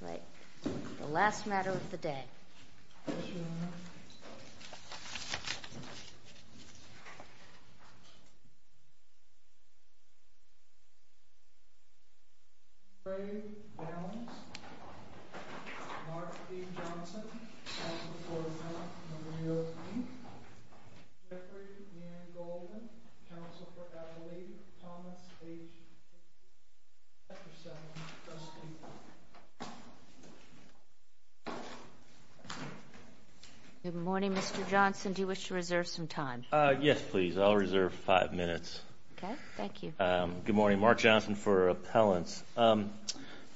Right, the last matter of the day. Good morning, Mr. Johnson. Do you wish to reserve some time? Yes, please. I'll reserve five minutes. Okay. Thank you. Good morning. Mark Johnson for Appellants. Your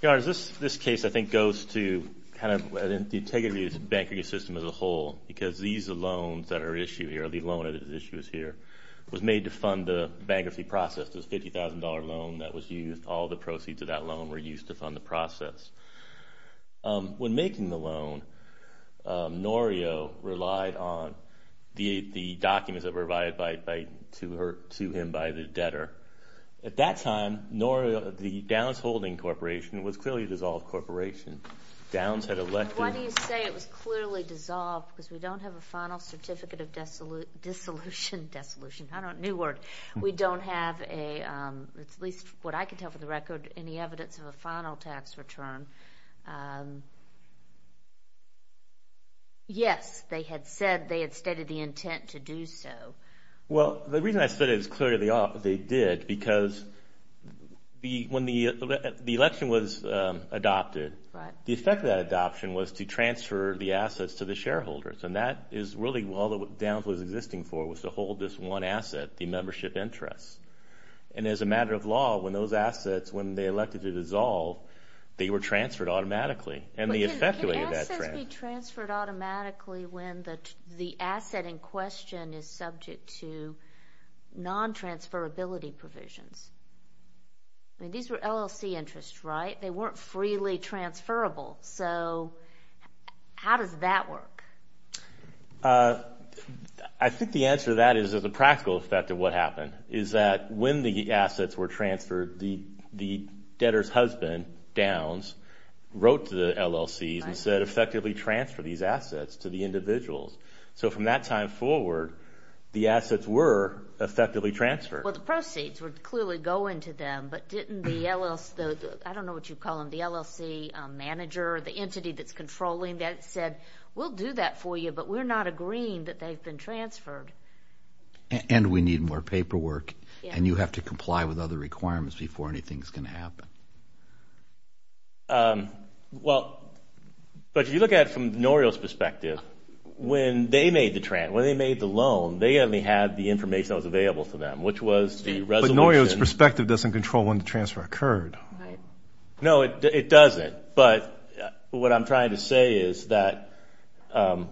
Honor, this case, I think, goes to kind of the integrity of the banking system as a whole because these loans that are issued here, the loan that is issued here, was made to fund the bankruptcy process. This $50,000 loan that was used, all the proceeds of that loan were used to fund the process. When making the loan, Norio relied on the documents that were provided to him by the debtor. At that time, the DOWNS Holding Corporation was clearly a dissolved corporation. Why do you say it was clearly dissolved? Because we don't have a final certificate of dissolution. New word. We don't have a, at least what I can tell for the record, any evidence of a final tax return. Yes, they had said they had stated the intent to do so. Well, the reason I said it was clearly they did because when the election was adopted, the effect of that adoption was to transfer the assets to the shareholders. And that is really all that DOWNS was existing for was to hold this one asset, the membership interest. And as a matter of law, when those assets, when they elected to dissolve, they were transferred automatically. Can assets be transferred automatically when the asset in question is subject to non-transferability provisions? I mean, these were LLC interests, right? They weren't freely transferable. So how does that work? I think the answer to that is there's a practical effect of what happened is that when the assets were transferred, the debtor's husband, DOWNS, wrote to the LLCs and said effectively transfer these assets to the individuals. So from that time forward, the assets were effectively transferred. Well, the proceeds would clearly go into them, but didn't the LLC, I don't know what you the entity that's controlling that said, we'll do that for you, but we're not agreeing that they've been transferred. And we need more paperwork, and you have to comply with other requirements before anything's going to happen. Well, but if you look at it from Norio's perspective, when they made the loan, they only had the information that was available to them, which was the resolution. But Norio's perspective doesn't control when the transfer occurred. No, it doesn't. But what I'm trying to say is that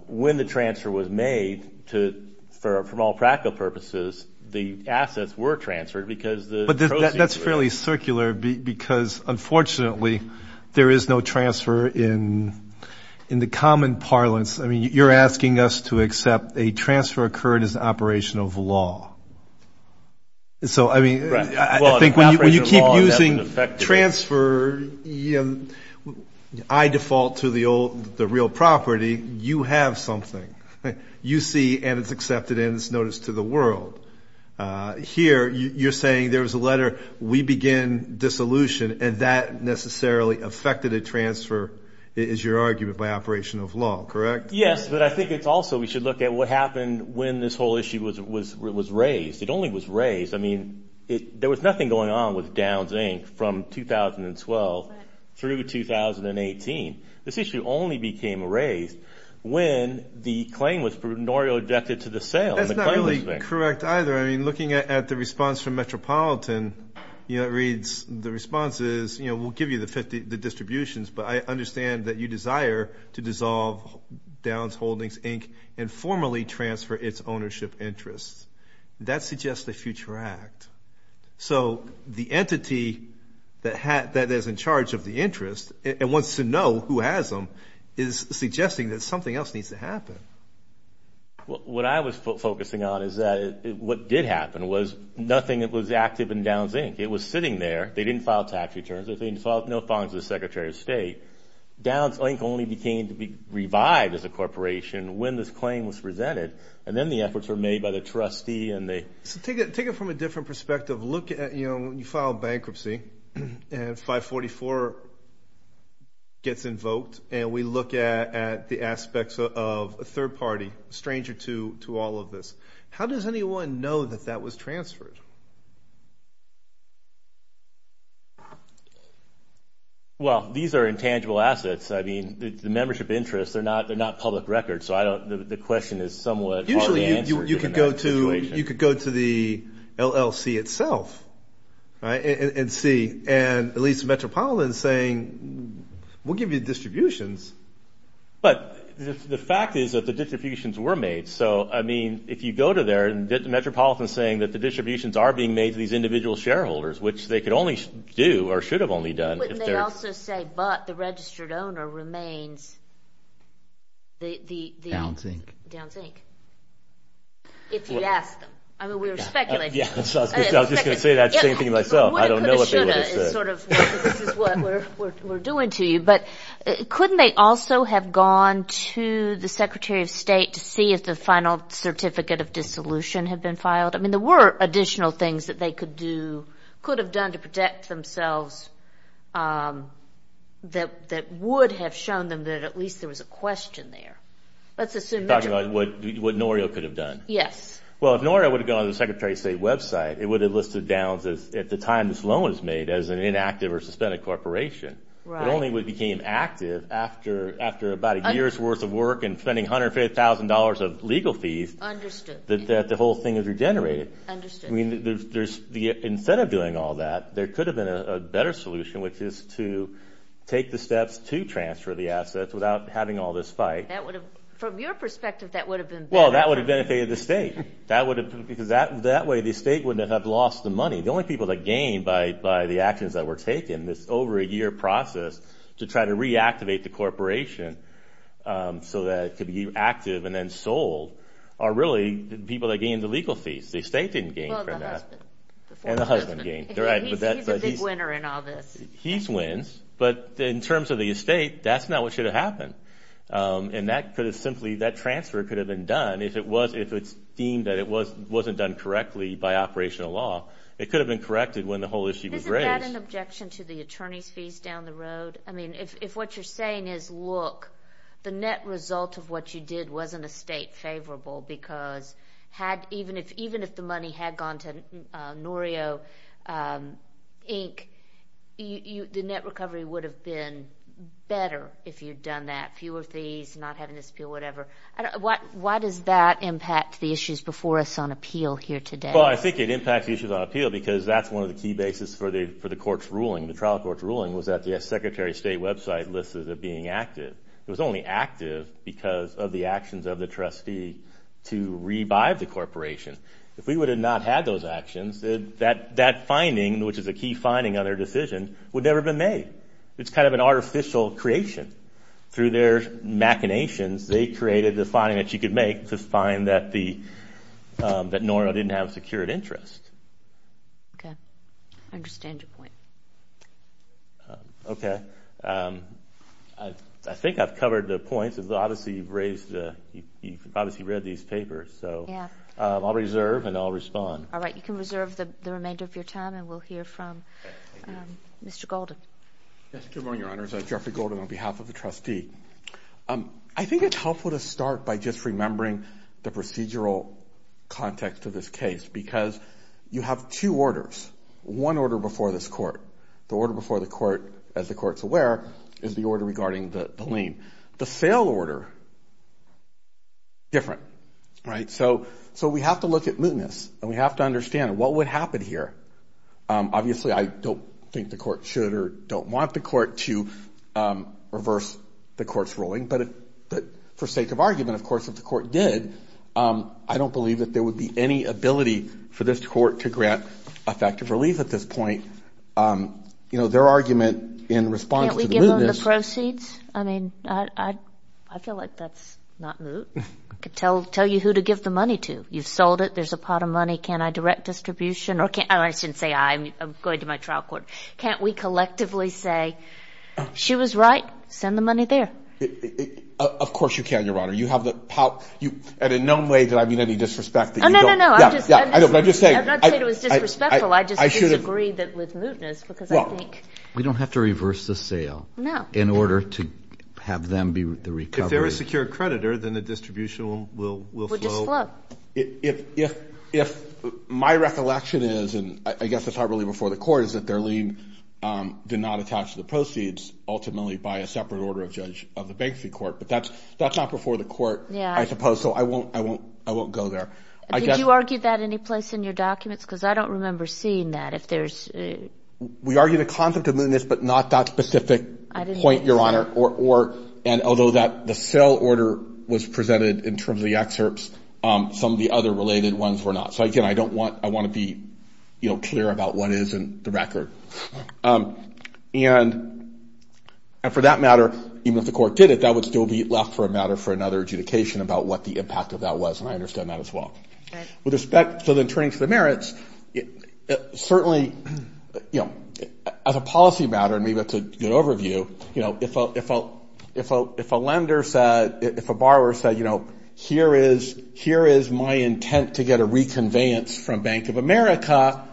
when the transfer was made, from all practical purposes, the assets were transferred because the proceeds were made. But that's fairly circular because, unfortunately, there is no transfer in the common parlance. I mean, you're asking us to accept a transfer occurred as an operation of law. So, I mean, I think when you keep using transfer, I default to the real property. You have something. You see, and it's accepted and it's noticed to the world. Here, you're saying there was a letter, we begin dissolution, and that necessarily affected a transfer, is your argument, by operation of law, correct? Yes, but I think it's also we should look at what happened when this whole issue was raised. It only was raised. I mean, there was nothing going on with Downs, Inc. from 2012 through 2018. This issue only became raised when the claim was from Norio directed to the sale. That's not really correct either. I mean, looking at the response from Metropolitan, you know, it reads, the response is, you know, we'll give you the distributions, but I understand that you desire to dissolve Downs Holdings, Inc. and formally transfer its ownership interests. That suggests a future act. So the entity that is in charge of the interest and wants to know who has them is suggesting that something else needs to happen. What I was focusing on is that what did happen was nothing that was active in Downs, Inc. It was sitting there. They didn't file tax returns. They didn't file no fines with the Secretary of State. Downs, Inc. only became to be revived as a corporation when this claim was presented, and then the efforts were made by the trustee and they. So take it from a different perspective. Look at, you know, you file bankruptcy, and 544 gets invoked, and we look at the aspects of a third party, a stranger to all of this. How does anyone know that that was transferred? Well, these are intangible assets. I mean, the membership interests, they're not public records, so the question is somewhat hard to answer in that situation. Usually you could go to the LLC itself and see, and at least the Metropolitan is saying, we'll give you the distributions. But the fact is that the distributions were made. So, I mean, if you go to there and the Metropolitan is saying that the distributions are being made to these They only do or should have only done if they're Wouldn't they also say, but the registered owner remains the Downs, Inc. Downs, Inc. If you ask them. I mean, we were speculating. I was just going to say that same thing to myself. I don't know what they would have said. This is what we're doing to you. But couldn't they also have gone to the Secretary of State to see if the final certificate of dissolution had been filed? I mean, there were additional things that they could have done to protect themselves that would have shown them that at least there was a question there. Let's assume that you're Talking about what Norio could have done. Yes. Well, if Norio would have gone to the Secretary of State website, it would have listed Downs as, at the time this loan was made, as an inactive or suspended corporation. Right. It only became active after about a year's worth of work and spending $150,000 of legal fees. Understood. That the whole thing is regenerated. Understood. I mean, instead of doing all that, there could have been a better solution, which is to take the steps to transfer the assets without having all this fight. From your perspective, that would have been better. Well, that would have benefited the state. Because that way the state wouldn't have lost the money. The only people that gain by the actions that were taken, this over-a-year process to try to reactivate the corporation so that it could be active and then sold are really the people that gain the legal fees. The state didn't gain from that. Well, the husband. And the husband gained. He's a big winner in all this. He wins. But in terms of the estate, that's not what should have happened. And that could have simply, that transfer could have been done if it was, if it's deemed that it wasn't done correctly by operational law. It could have been corrected when the whole issue was raised. Isn't that an objection to the attorney's fees down the road? I mean, if what you're saying is, look, the net result of what you did wasn't a state favorable because even if the money had gone to Norio Inc., the net recovery would have been better if you'd done that. Fewer fees, not having this appeal, whatever. Why does that impact the issues before us on appeal here today? Well, I think it impacts the issues on appeal because that's one of the key bases for the court's ruling, the trial court's ruling, was that the Secretary of State website listed it being active. It was only active because of the actions of the trustee to revive the corporation. If we would have not had those actions, that finding, which is a key finding on their decision, would never have been made. It's kind of an artificial creation. Through their machinations, they created the finding that you could make to find that Norio didn't have a secured interest. Okay. I understand your point. Okay. I think I've covered the points. Obviously, you've read these papers, so I'll reserve and I'll respond. All right. You can reserve the remainder of your time and we'll hear from Mr. Golden. Good morning, Your Honors. I'm Jeffrey Golden on behalf of the trustee. I think it's helpful to start by just remembering the procedural context of this case because you have two orders, one order before this court. The order before the court, as the court's aware, is the order regarding the lien. The sale order, different, right? So we have to look at mootness and we have to understand what would happen here. Obviously, I don't think the court should or don't want the court to reverse the court's ruling, but for sake of argument, of course, if the court did, I don't believe that there would be any ability for this court to grant effective relief at this point. You know, their argument in response to the mootness. Can't we give them the proceeds? I mean, I feel like that's not moot. I could tell you who to give the money to. You've sold it. There's a pot of money. Can I direct distribution? Or I shouldn't say I, I'm going to my trial court. Can't we collectively say she was right? Send the money there. Of course you can, Your Honor. You have the, at a known way that I mean any disrespect that you don't. No, no, no. I'm just saying. I'm not saying it was disrespectful. I just disagree with mootness because I think. We don't have to reverse the sale. No. In order to have them be recovered. If they're a secure creditor, then the distribution will flow. Will just flow. If, if, if my recollection is, and I guess it's not really before the court, is that their lien did not attach to the proceeds ultimately by a separate order of judge of the bankruptcy court. But that's, that's not before the court, I suppose. So I won't, I won't, I won't go there. Did you argue that any place in your documents? Because I don't remember seeing that. If there's. We argue the concept of mootness, but not that specific point, Your Honor. Or, or, and although that the sale order was presented in terms of the other related ones were not. So, again, I don't want, I want to be, you know, clear about what is in the record. And, and for that matter, even if the court did it, that would still be left for a matter for another adjudication about what the impact of that was. And I understand that as well. With respect, so then turning to the merits, certainly, you know, as a policy matter, and maybe that's a good overview, you know, if a, if a, if a, if a lender said, if a borrower said, you know, here is, here is my intent to get a reconveyance from Bank of America,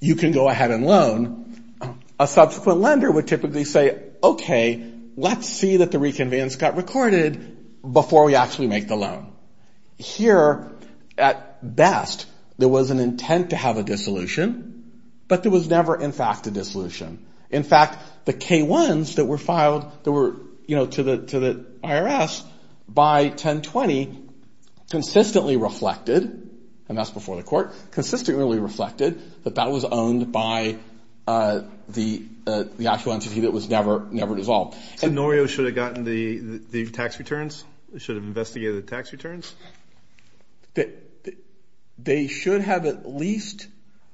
you can go ahead and loan, a subsequent lender would typically say, okay, let's see that the reconveyance got recorded before we actually make the loan. Here, at best, there was an intent to have a dissolution, but there was never, in fact, a dissolution. In fact, the K-1s that were filed that were, you know, to the, to the IRS by 10-20 consistently reflected, and that's before the court, consistently reflected that that was owned by the, the actual entity that was never, never dissolved. So Norio should have gotten the, the tax returns? Should have investigated the tax returns? They should have at least,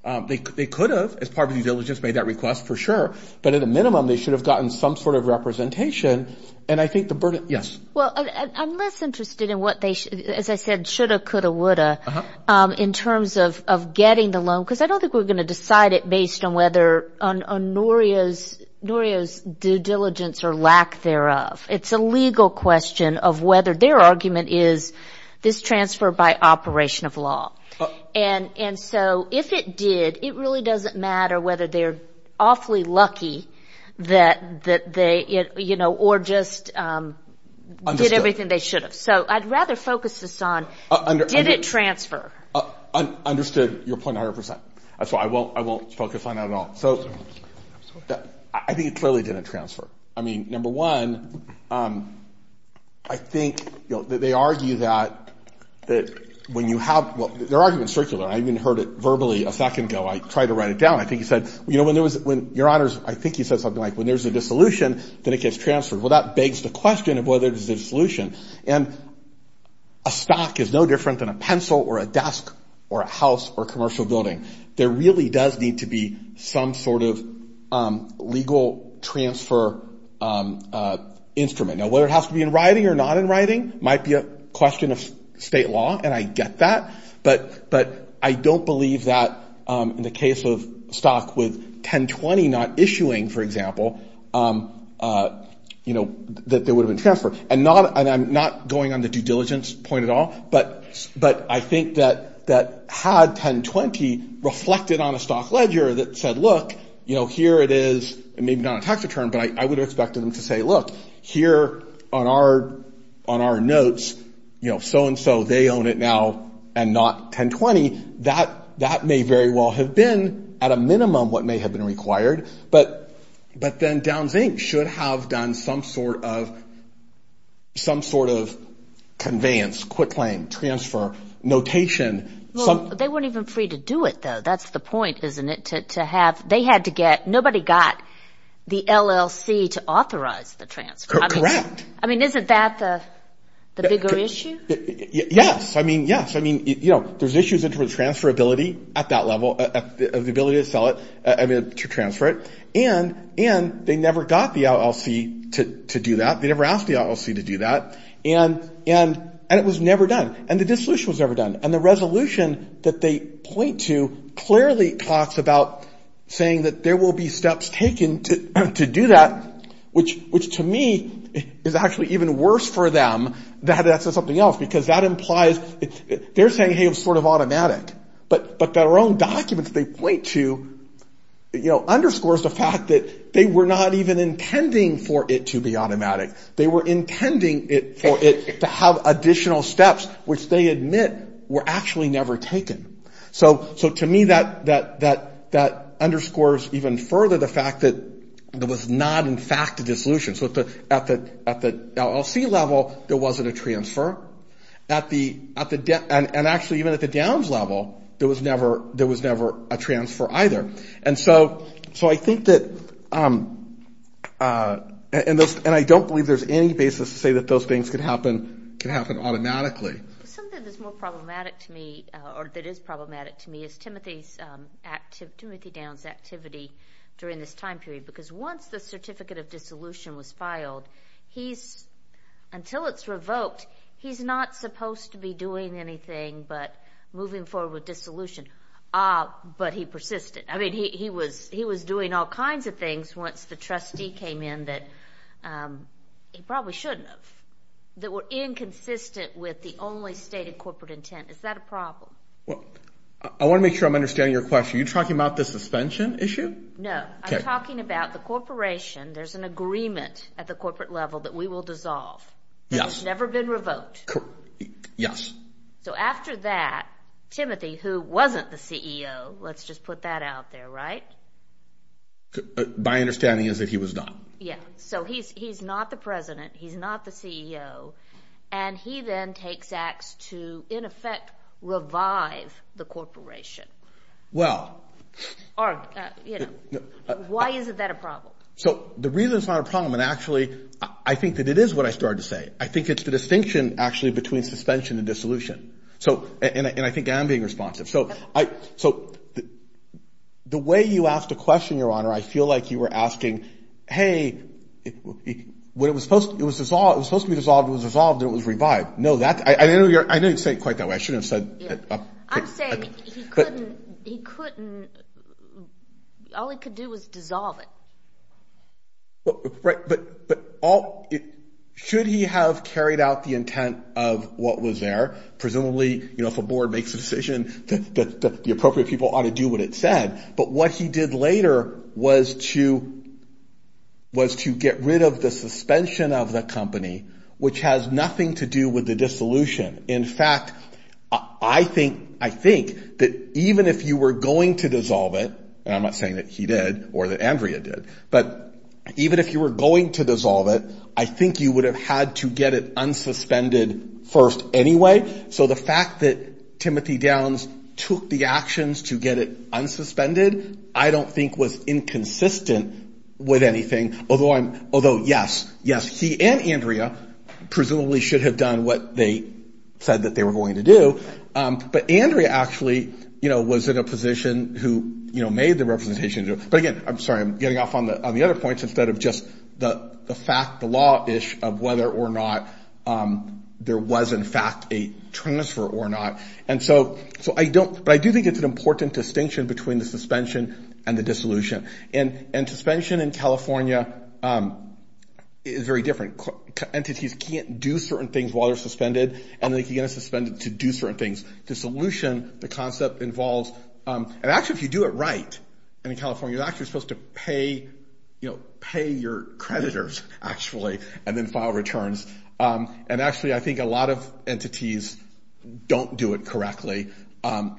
they could have, as part of the diligence made that request, for sure. But at a minimum, they should have gotten some sort of representation. And I think the burden, yes. Well, I'm less interested in what they, as I said, should have, could have, would have, in terms of getting the loan, because I don't think we're going to decide it based on whether on Norio's, Norio's due diligence or lack thereof. It's a legal question of whether their argument is this transfer by operation of law. And so if it did, it really doesn't matter whether they're awfully lucky that they, you know, or just did everything they should have. So I'd rather focus this on, did it transfer? Understood your point 100 percent. That's why I won't, I won't focus on that at all. So I think it clearly didn't transfer. I mean, number one, I think, you know, they argue that, that when you have, their argument is circular. I even heard it verbally a second ago. I tried to write it down. I think he said, you know, when there was, when, Your Honors, I think he said something like when there's a dissolution, then it gets transferred. Well, that begs the question of whether it is a solution. And a stock is no different than a pencil or a desk or a house or commercial building. There really does need to be some sort of legal transfer instrument. Now, whether it has to be in writing or not in writing might be a question of state law. And I get that. But I don't believe that in the case of stock with 1020 not issuing, for example, you know, that there would have been transfer. And I'm not going on the due diligence point at all. But I think that had 1020 reflected on a stock ledger that said, look, you know, here it is, maybe not a tax return, but I would have expected them to say, look, here on our notes, you know, so-and-so, they own it now and not 1020. That may very well have been at a minimum what may have been required. But then Downs, Inc. should have done some sort of conveyance, quick claim, transfer, notation. Well, they weren't even free to do it, though. That's the point, isn't it, to have, they had to get, nobody got the LLC to authorize the transfer. Correct. I mean, isn't that the bigger issue? Yes. I mean, yes. I mean, you know, there's issues with transferability at that level, the ability to sell it, to transfer it. And they never got the LLC to do that. They never asked the LLC to do that. And it was never done. And the dissolution was never done. And the resolution that they point to clearly talks about saying that there will be steps taken to do that, which, to me, is actually even worse for them than that says something else, because that implies, they're saying, hey, it was sort of automatic. But their own documents they point to, you know, underscores the fact that they were not even intending for it to be automatic. They were intending for it to have additional steps, which they admit were actually never taken. So to me, that underscores even further the fact that there was not, in fact, a dissolution. So at the LLC level, there wasn't a transfer. And actually, even at the Downs level, there was never a transfer either. And so I think that, and I don't believe there's any basis to say that those things could happen automatically. Something that is more problematic to me, or that is problematic to me, is Timothy Downs' activity during this time period. Because once the Certificate of Dissolution was filed, he's, until it's revoked, he's not supposed to be doing anything but moving forward with dissolution. Ah, but he persisted. I mean, he was doing all kinds of things once the trustee came in that he probably shouldn't have, that were inconsistent with the only stated corporate intent. Is that a problem? Well, I want to make sure I'm understanding your question. Are you talking about the suspension issue? No. I'm talking about the corporation. There's an agreement at the corporate level that we will dissolve. Yes. And it's never been revoked. Yes. So after that, Timothy, who wasn't the CEO, let's just put that out there, right? My understanding is that he was not. Yes. So he's not the president, he's not the CEO, and he then takes acts to, in effect, revive the corporation. Well. Or, you know, why isn't that a problem? So the reason it's not a problem, and actually I think that it is what I started to say, I think it's the distinction actually between suspension and dissolution. And I think I am being responsive. So the way you asked the question, Your Honor, I feel like you were asking, hey, when it was supposed to be dissolved, it was dissolved and it was revived. No, I didn't say it quite that way. I shouldn't have said that. I'm saying he couldn't. All he could do was dissolve it. Right. But should he have carried out the intent of what was there, presumably if a board makes a decision that the appropriate people ought to do what it said, but what he did later was to get rid of the suspension of the company, which has nothing to do with the dissolution. In fact, I think that even if you were going to dissolve it, and I'm not saying that he did or that Andrea did, but even if you were going to dissolve it, I think you would have had to get it unsuspended first anyway So the fact that Timothy Downs took the actions to get it unsuspended, I don't think was inconsistent with anything, although yes, yes, he and Andrea presumably should have done what they said that they were going to do. But Andrea actually was in a position who made the representation. But again, I'm sorry, I'm getting off on the other points instead of just the fact, the law ish of whether or not there was in fact a transfer or not. And so so I don't. But I do think it's an important distinction between the suspension and the dissolution. And and suspension in California is very different. Entities can't do certain things while they're suspended and they can get suspended to do certain things. Dissolution, the concept involves. And actually, if you do it right in California, you're actually supposed to pay, you know, pay your creditors actually and then file returns. And actually, I think a lot of entities don't do it correctly,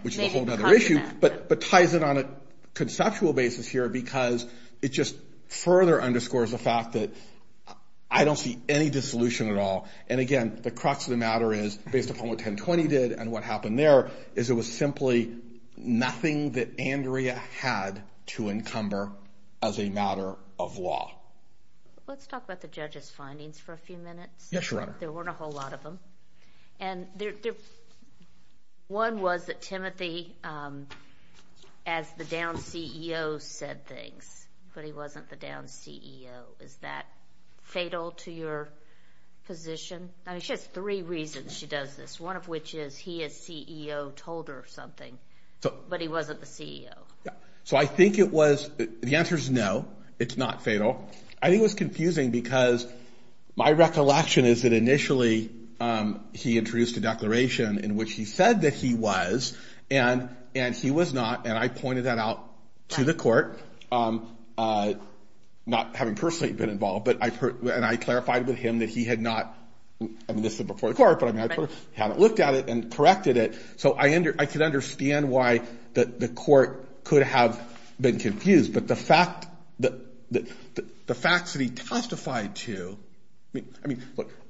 which is a whole nother issue. But but ties it on a conceptual basis here because it just further underscores the fact that I don't see any dissolution at all. And again, the crux of the matter is based upon what 1020 did. And what happened there is it was simply nothing that Andrea had to encumber as a matter of law. Let's talk about the judge's findings for a few minutes. Yes, Your Honor. There weren't a whole lot of them. And one was that Timothy, as the down CEO, said things, but he wasn't the down CEO. Is that fatal to your position? She has three reasons she does this, one of which is he is CEO, told her something, but he wasn't the CEO. So I think it was. The answer is no, it's not fatal. I think it was confusing because my recollection is that initially he introduced a declaration in which he said that he was. And and he was not. And I pointed that out to the court, not having personally been involved. But I've heard and I clarified with him that he had not. I mean, this is before the court, but I haven't looked at it and corrected it. So I under I could understand why the court could have been confused. But the fact that the facts that he testified to. I mean,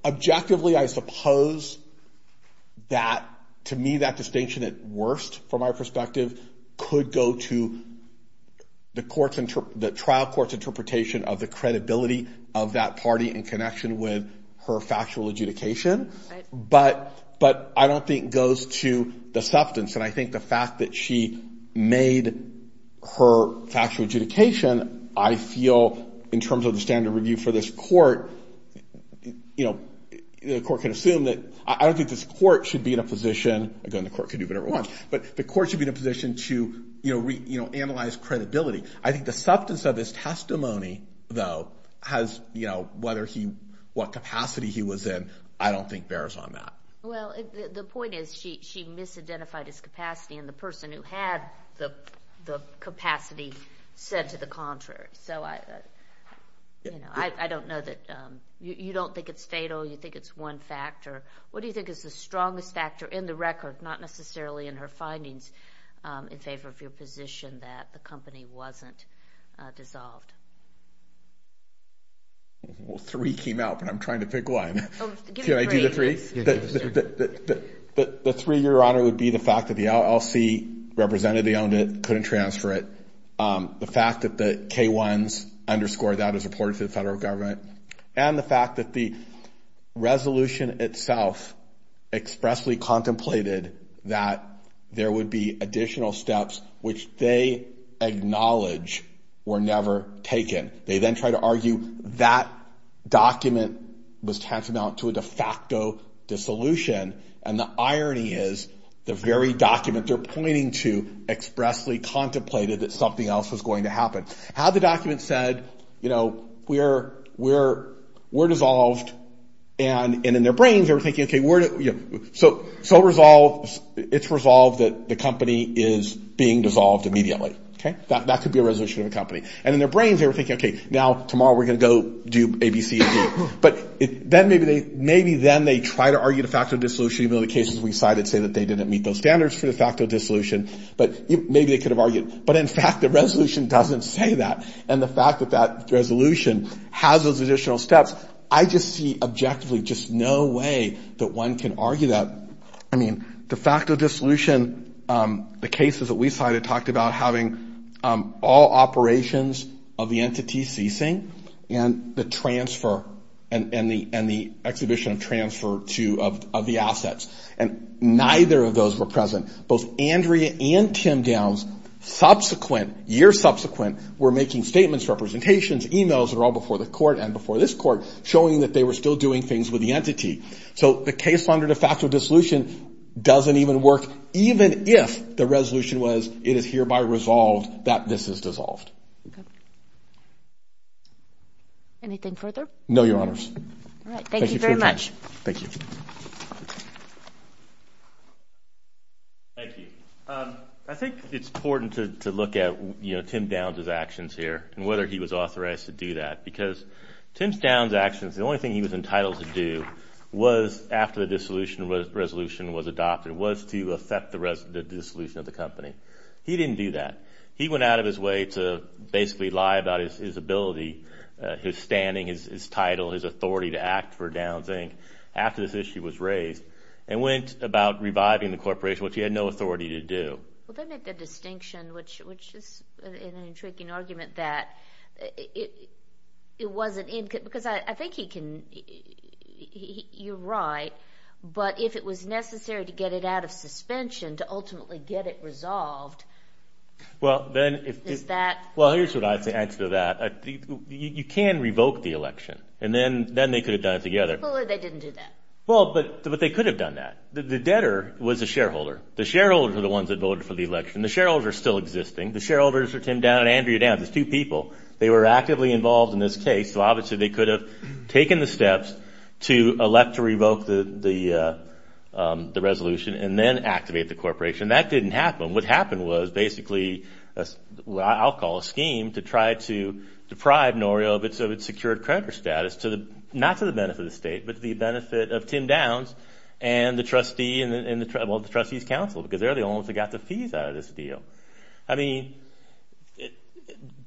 objectively, I suppose that to me, that distinction at worst, from our perspective, could go to the courts and the trial court's interpretation of the credibility of that party in connection with her factual adjudication. But but I don't think goes to the substance. And I think the fact that she made her factual adjudication, I feel in terms of the standard review for this court, you know, the court can assume that I don't think this court should be in a position. Again, the court can do whatever it wants, but the court should be in a position to, you know, analyze credibility. I think the substance of his testimony, though, has, you know, whether he what capacity he was in, I don't think bears on that. Well, the point is, she she misidentified his capacity and the person who had the capacity said to the contrary. So I don't know that you don't think it's fatal. You think it's one factor. What do you think is the strongest factor in the record, not necessarily in her findings in favor of your position that the company wasn't dissolved? Well, three came out, but I'm trying to pick one. Can I do the three? The three, Your Honor, would be the fact that the LLC represented they owned it, couldn't transfer it. The fact that the K ones underscore that is reported to the federal government and the fact that the resolution itself expressly contemplated that there would be additional steps which they acknowledge were never taken. They then try to argue that document was tantamount to a de facto dissolution. And the irony is the very document they're pointing to expressly contemplated that something else was going to happen. How the document said, you know, we're we're we're dissolved. And in their brains, they were thinking, OK, we're so so resolved. It's resolved that the company is being dissolved immediately. OK, that could be a resolution of the company. And in their brains, they were thinking, OK, now tomorrow we're going to go do ABC. But then maybe they maybe then they try to argue the fact of dissolution of the cases. We decided say that they didn't meet those standards for the fact of dissolution. But maybe they could have argued. But in fact, the resolution doesn't say that. And the fact that that resolution has those additional steps, I just see objectively just no way that one can argue that. I mean, the fact of dissolution, the cases that we cited talked about having all operations of the entity ceasing and the transfer and the and the exhibition of transfer to of the assets. And neither of those were present. Both Andrea and Tim Downs subsequent year subsequent were making statements, representations, emails are all before the court and before this court showing that they were still doing things with the entity. So the case under the fact of dissolution doesn't even work, even if the resolution was it is hereby resolved that this is dissolved. Anything further? No, your honors. All right. Thank you very much. Thank you. Thank you. I think it's important to look at, you know, Tim Downs his actions here and whether he was authorized to do that, because Tim Downs' actions, the only thing he was entitled to do was after the dissolution resolution was adopted was to affect the dissolution of the company. He didn't do that. He went out of his way to basically lie about his ability, his standing, his title, his authority to act for Downs Inc. after this issue was raised and went about reviving the corporation, which he had no authority to do. Well, they made the distinction, which is an intriguing argument, that it wasn't because I think he can, you're right, but if it was necessary to get it out of suspension to ultimately get it resolved, is that? Well, here's what I have to answer to that. You can revoke the election, and then they could have done it together. Well, they didn't do that. Well, but they could have done that. The debtor was a shareholder. The shareholders are the ones that voted for the election. The shareholders are still existing. The shareholders are Tim Downs and Andrea Downs. There's two people. They were actively involved in this case, so obviously they could have taken the steps to elect to revoke the resolution and then activate the corporation. That didn't happen. What happened was basically what I'll call a scheme to try to deprive Norio of its secured creditor status, not to the benefit of the state, but to the benefit of Tim Downs and the trustee, well, the trustee's counsel, because they're the only ones that got the fees out of this deal. I mean,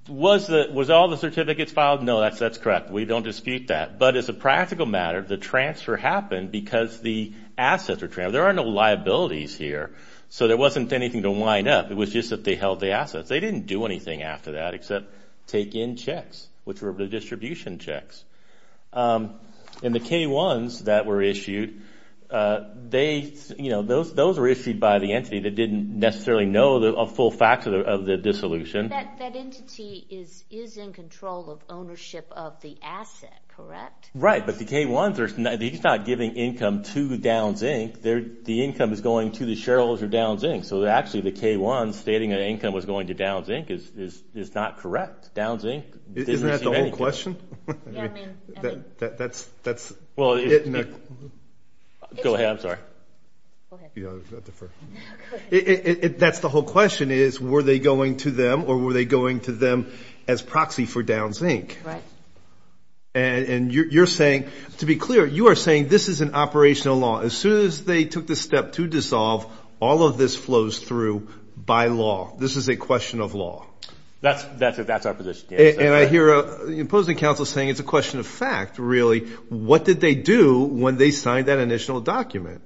was all the certificates filed? No, that's correct. We don't dispute that. But as a practical matter, the transfer happened because the assets were transferred. There are no liabilities here, so there wasn't anything to wind up. It was just that they held the assets. They didn't do anything after that except take in checks, which were the distribution checks. And the K-1s that were issued, those were issued by the entity that didn't necessarily know a full factor of the dissolution. That entity is in control of ownership of the asset, correct? Right, but the K-1s are not giving income to Downs, Inc. The income is going to the shareholders of Downs, Inc. So actually the K-1s stating an income was going to Downs, Inc. is not correct. Downs, Inc. didn't receive any income. Is that the question? Yeah, I mean, I think. That's it. Go ahead, I'm sorry. That's the whole question is were they going to them or were they going to them as proxy for Downs, Inc.? Right. And you're saying, to be clear, you are saying this is an operational law. As soon as they took the step to dissolve, all of this flows through by law. This is a question of law. That's our position, yes. And I hear the opposing counsel saying it's a question of fact, really. What did they do when they signed that initial document?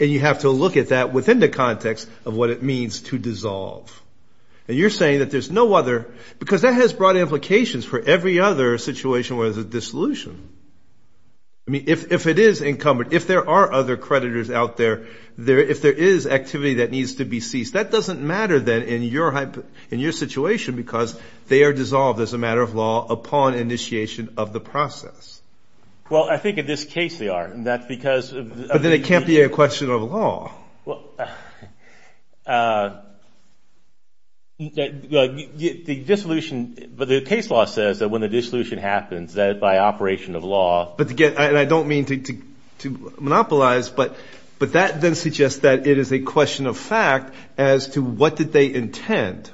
And you have to look at that within the context of what it means to dissolve. And you're saying that there's no other. Because that has broad implications for every other situation where there's a dissolution. I mean, if it is incumbent, if there are other creditors out there, if there is activity that needs to be ceased, that doesn't matter then in your situation because they are dissolved as a matter of law upon initiation of the process. Well, I think in this case they are. But then it can't be a question of law. The case law says that when the dissolution happens that by operation of law. And I don't mean to monopolize, but that then suggests that it is a question of fact as to what did they intend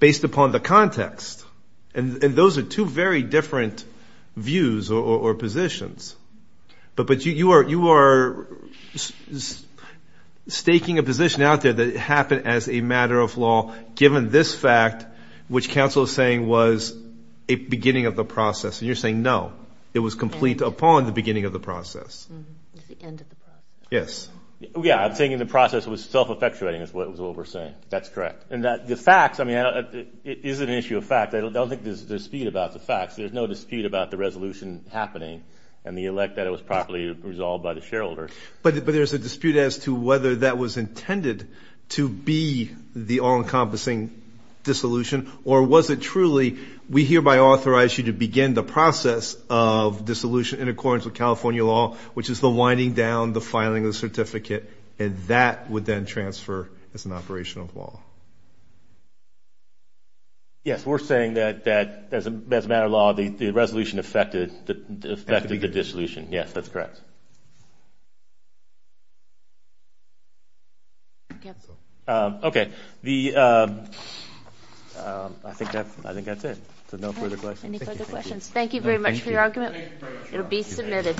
based upon the context. And those are two very different views or positions. But you are staking a position out there that it happened as a matter of law given this fact, which counsel is saying was a beginning of the process. And you're saying no, it was complete upon the beginning of the process. It's the end of the process. Yes. Yeah, I'm thinking the process was self-effectuating is what we're saying. That's correct. And the facts, I mean, it isn't an issue of fact. I don't think there's a dispute about the facts. There's no dispute about the resolution happening and the elect that it was properly resolved by the shareholder. But there's a dispute as to whether that was intended to be the all-encompassing dissolution or was it truly we hereby authorize you to begin the process of dissolution in accordance with California law which is the winding down, the filing of the certificate. And that would then transfer as an operation of law. Yes, we're saying that as a matter of law the resolution affected the dissolution. Yes, that's correct. Okay. I think that's it. So no further questions. Any further questions. Thank you very much for your argument. It will be submitted.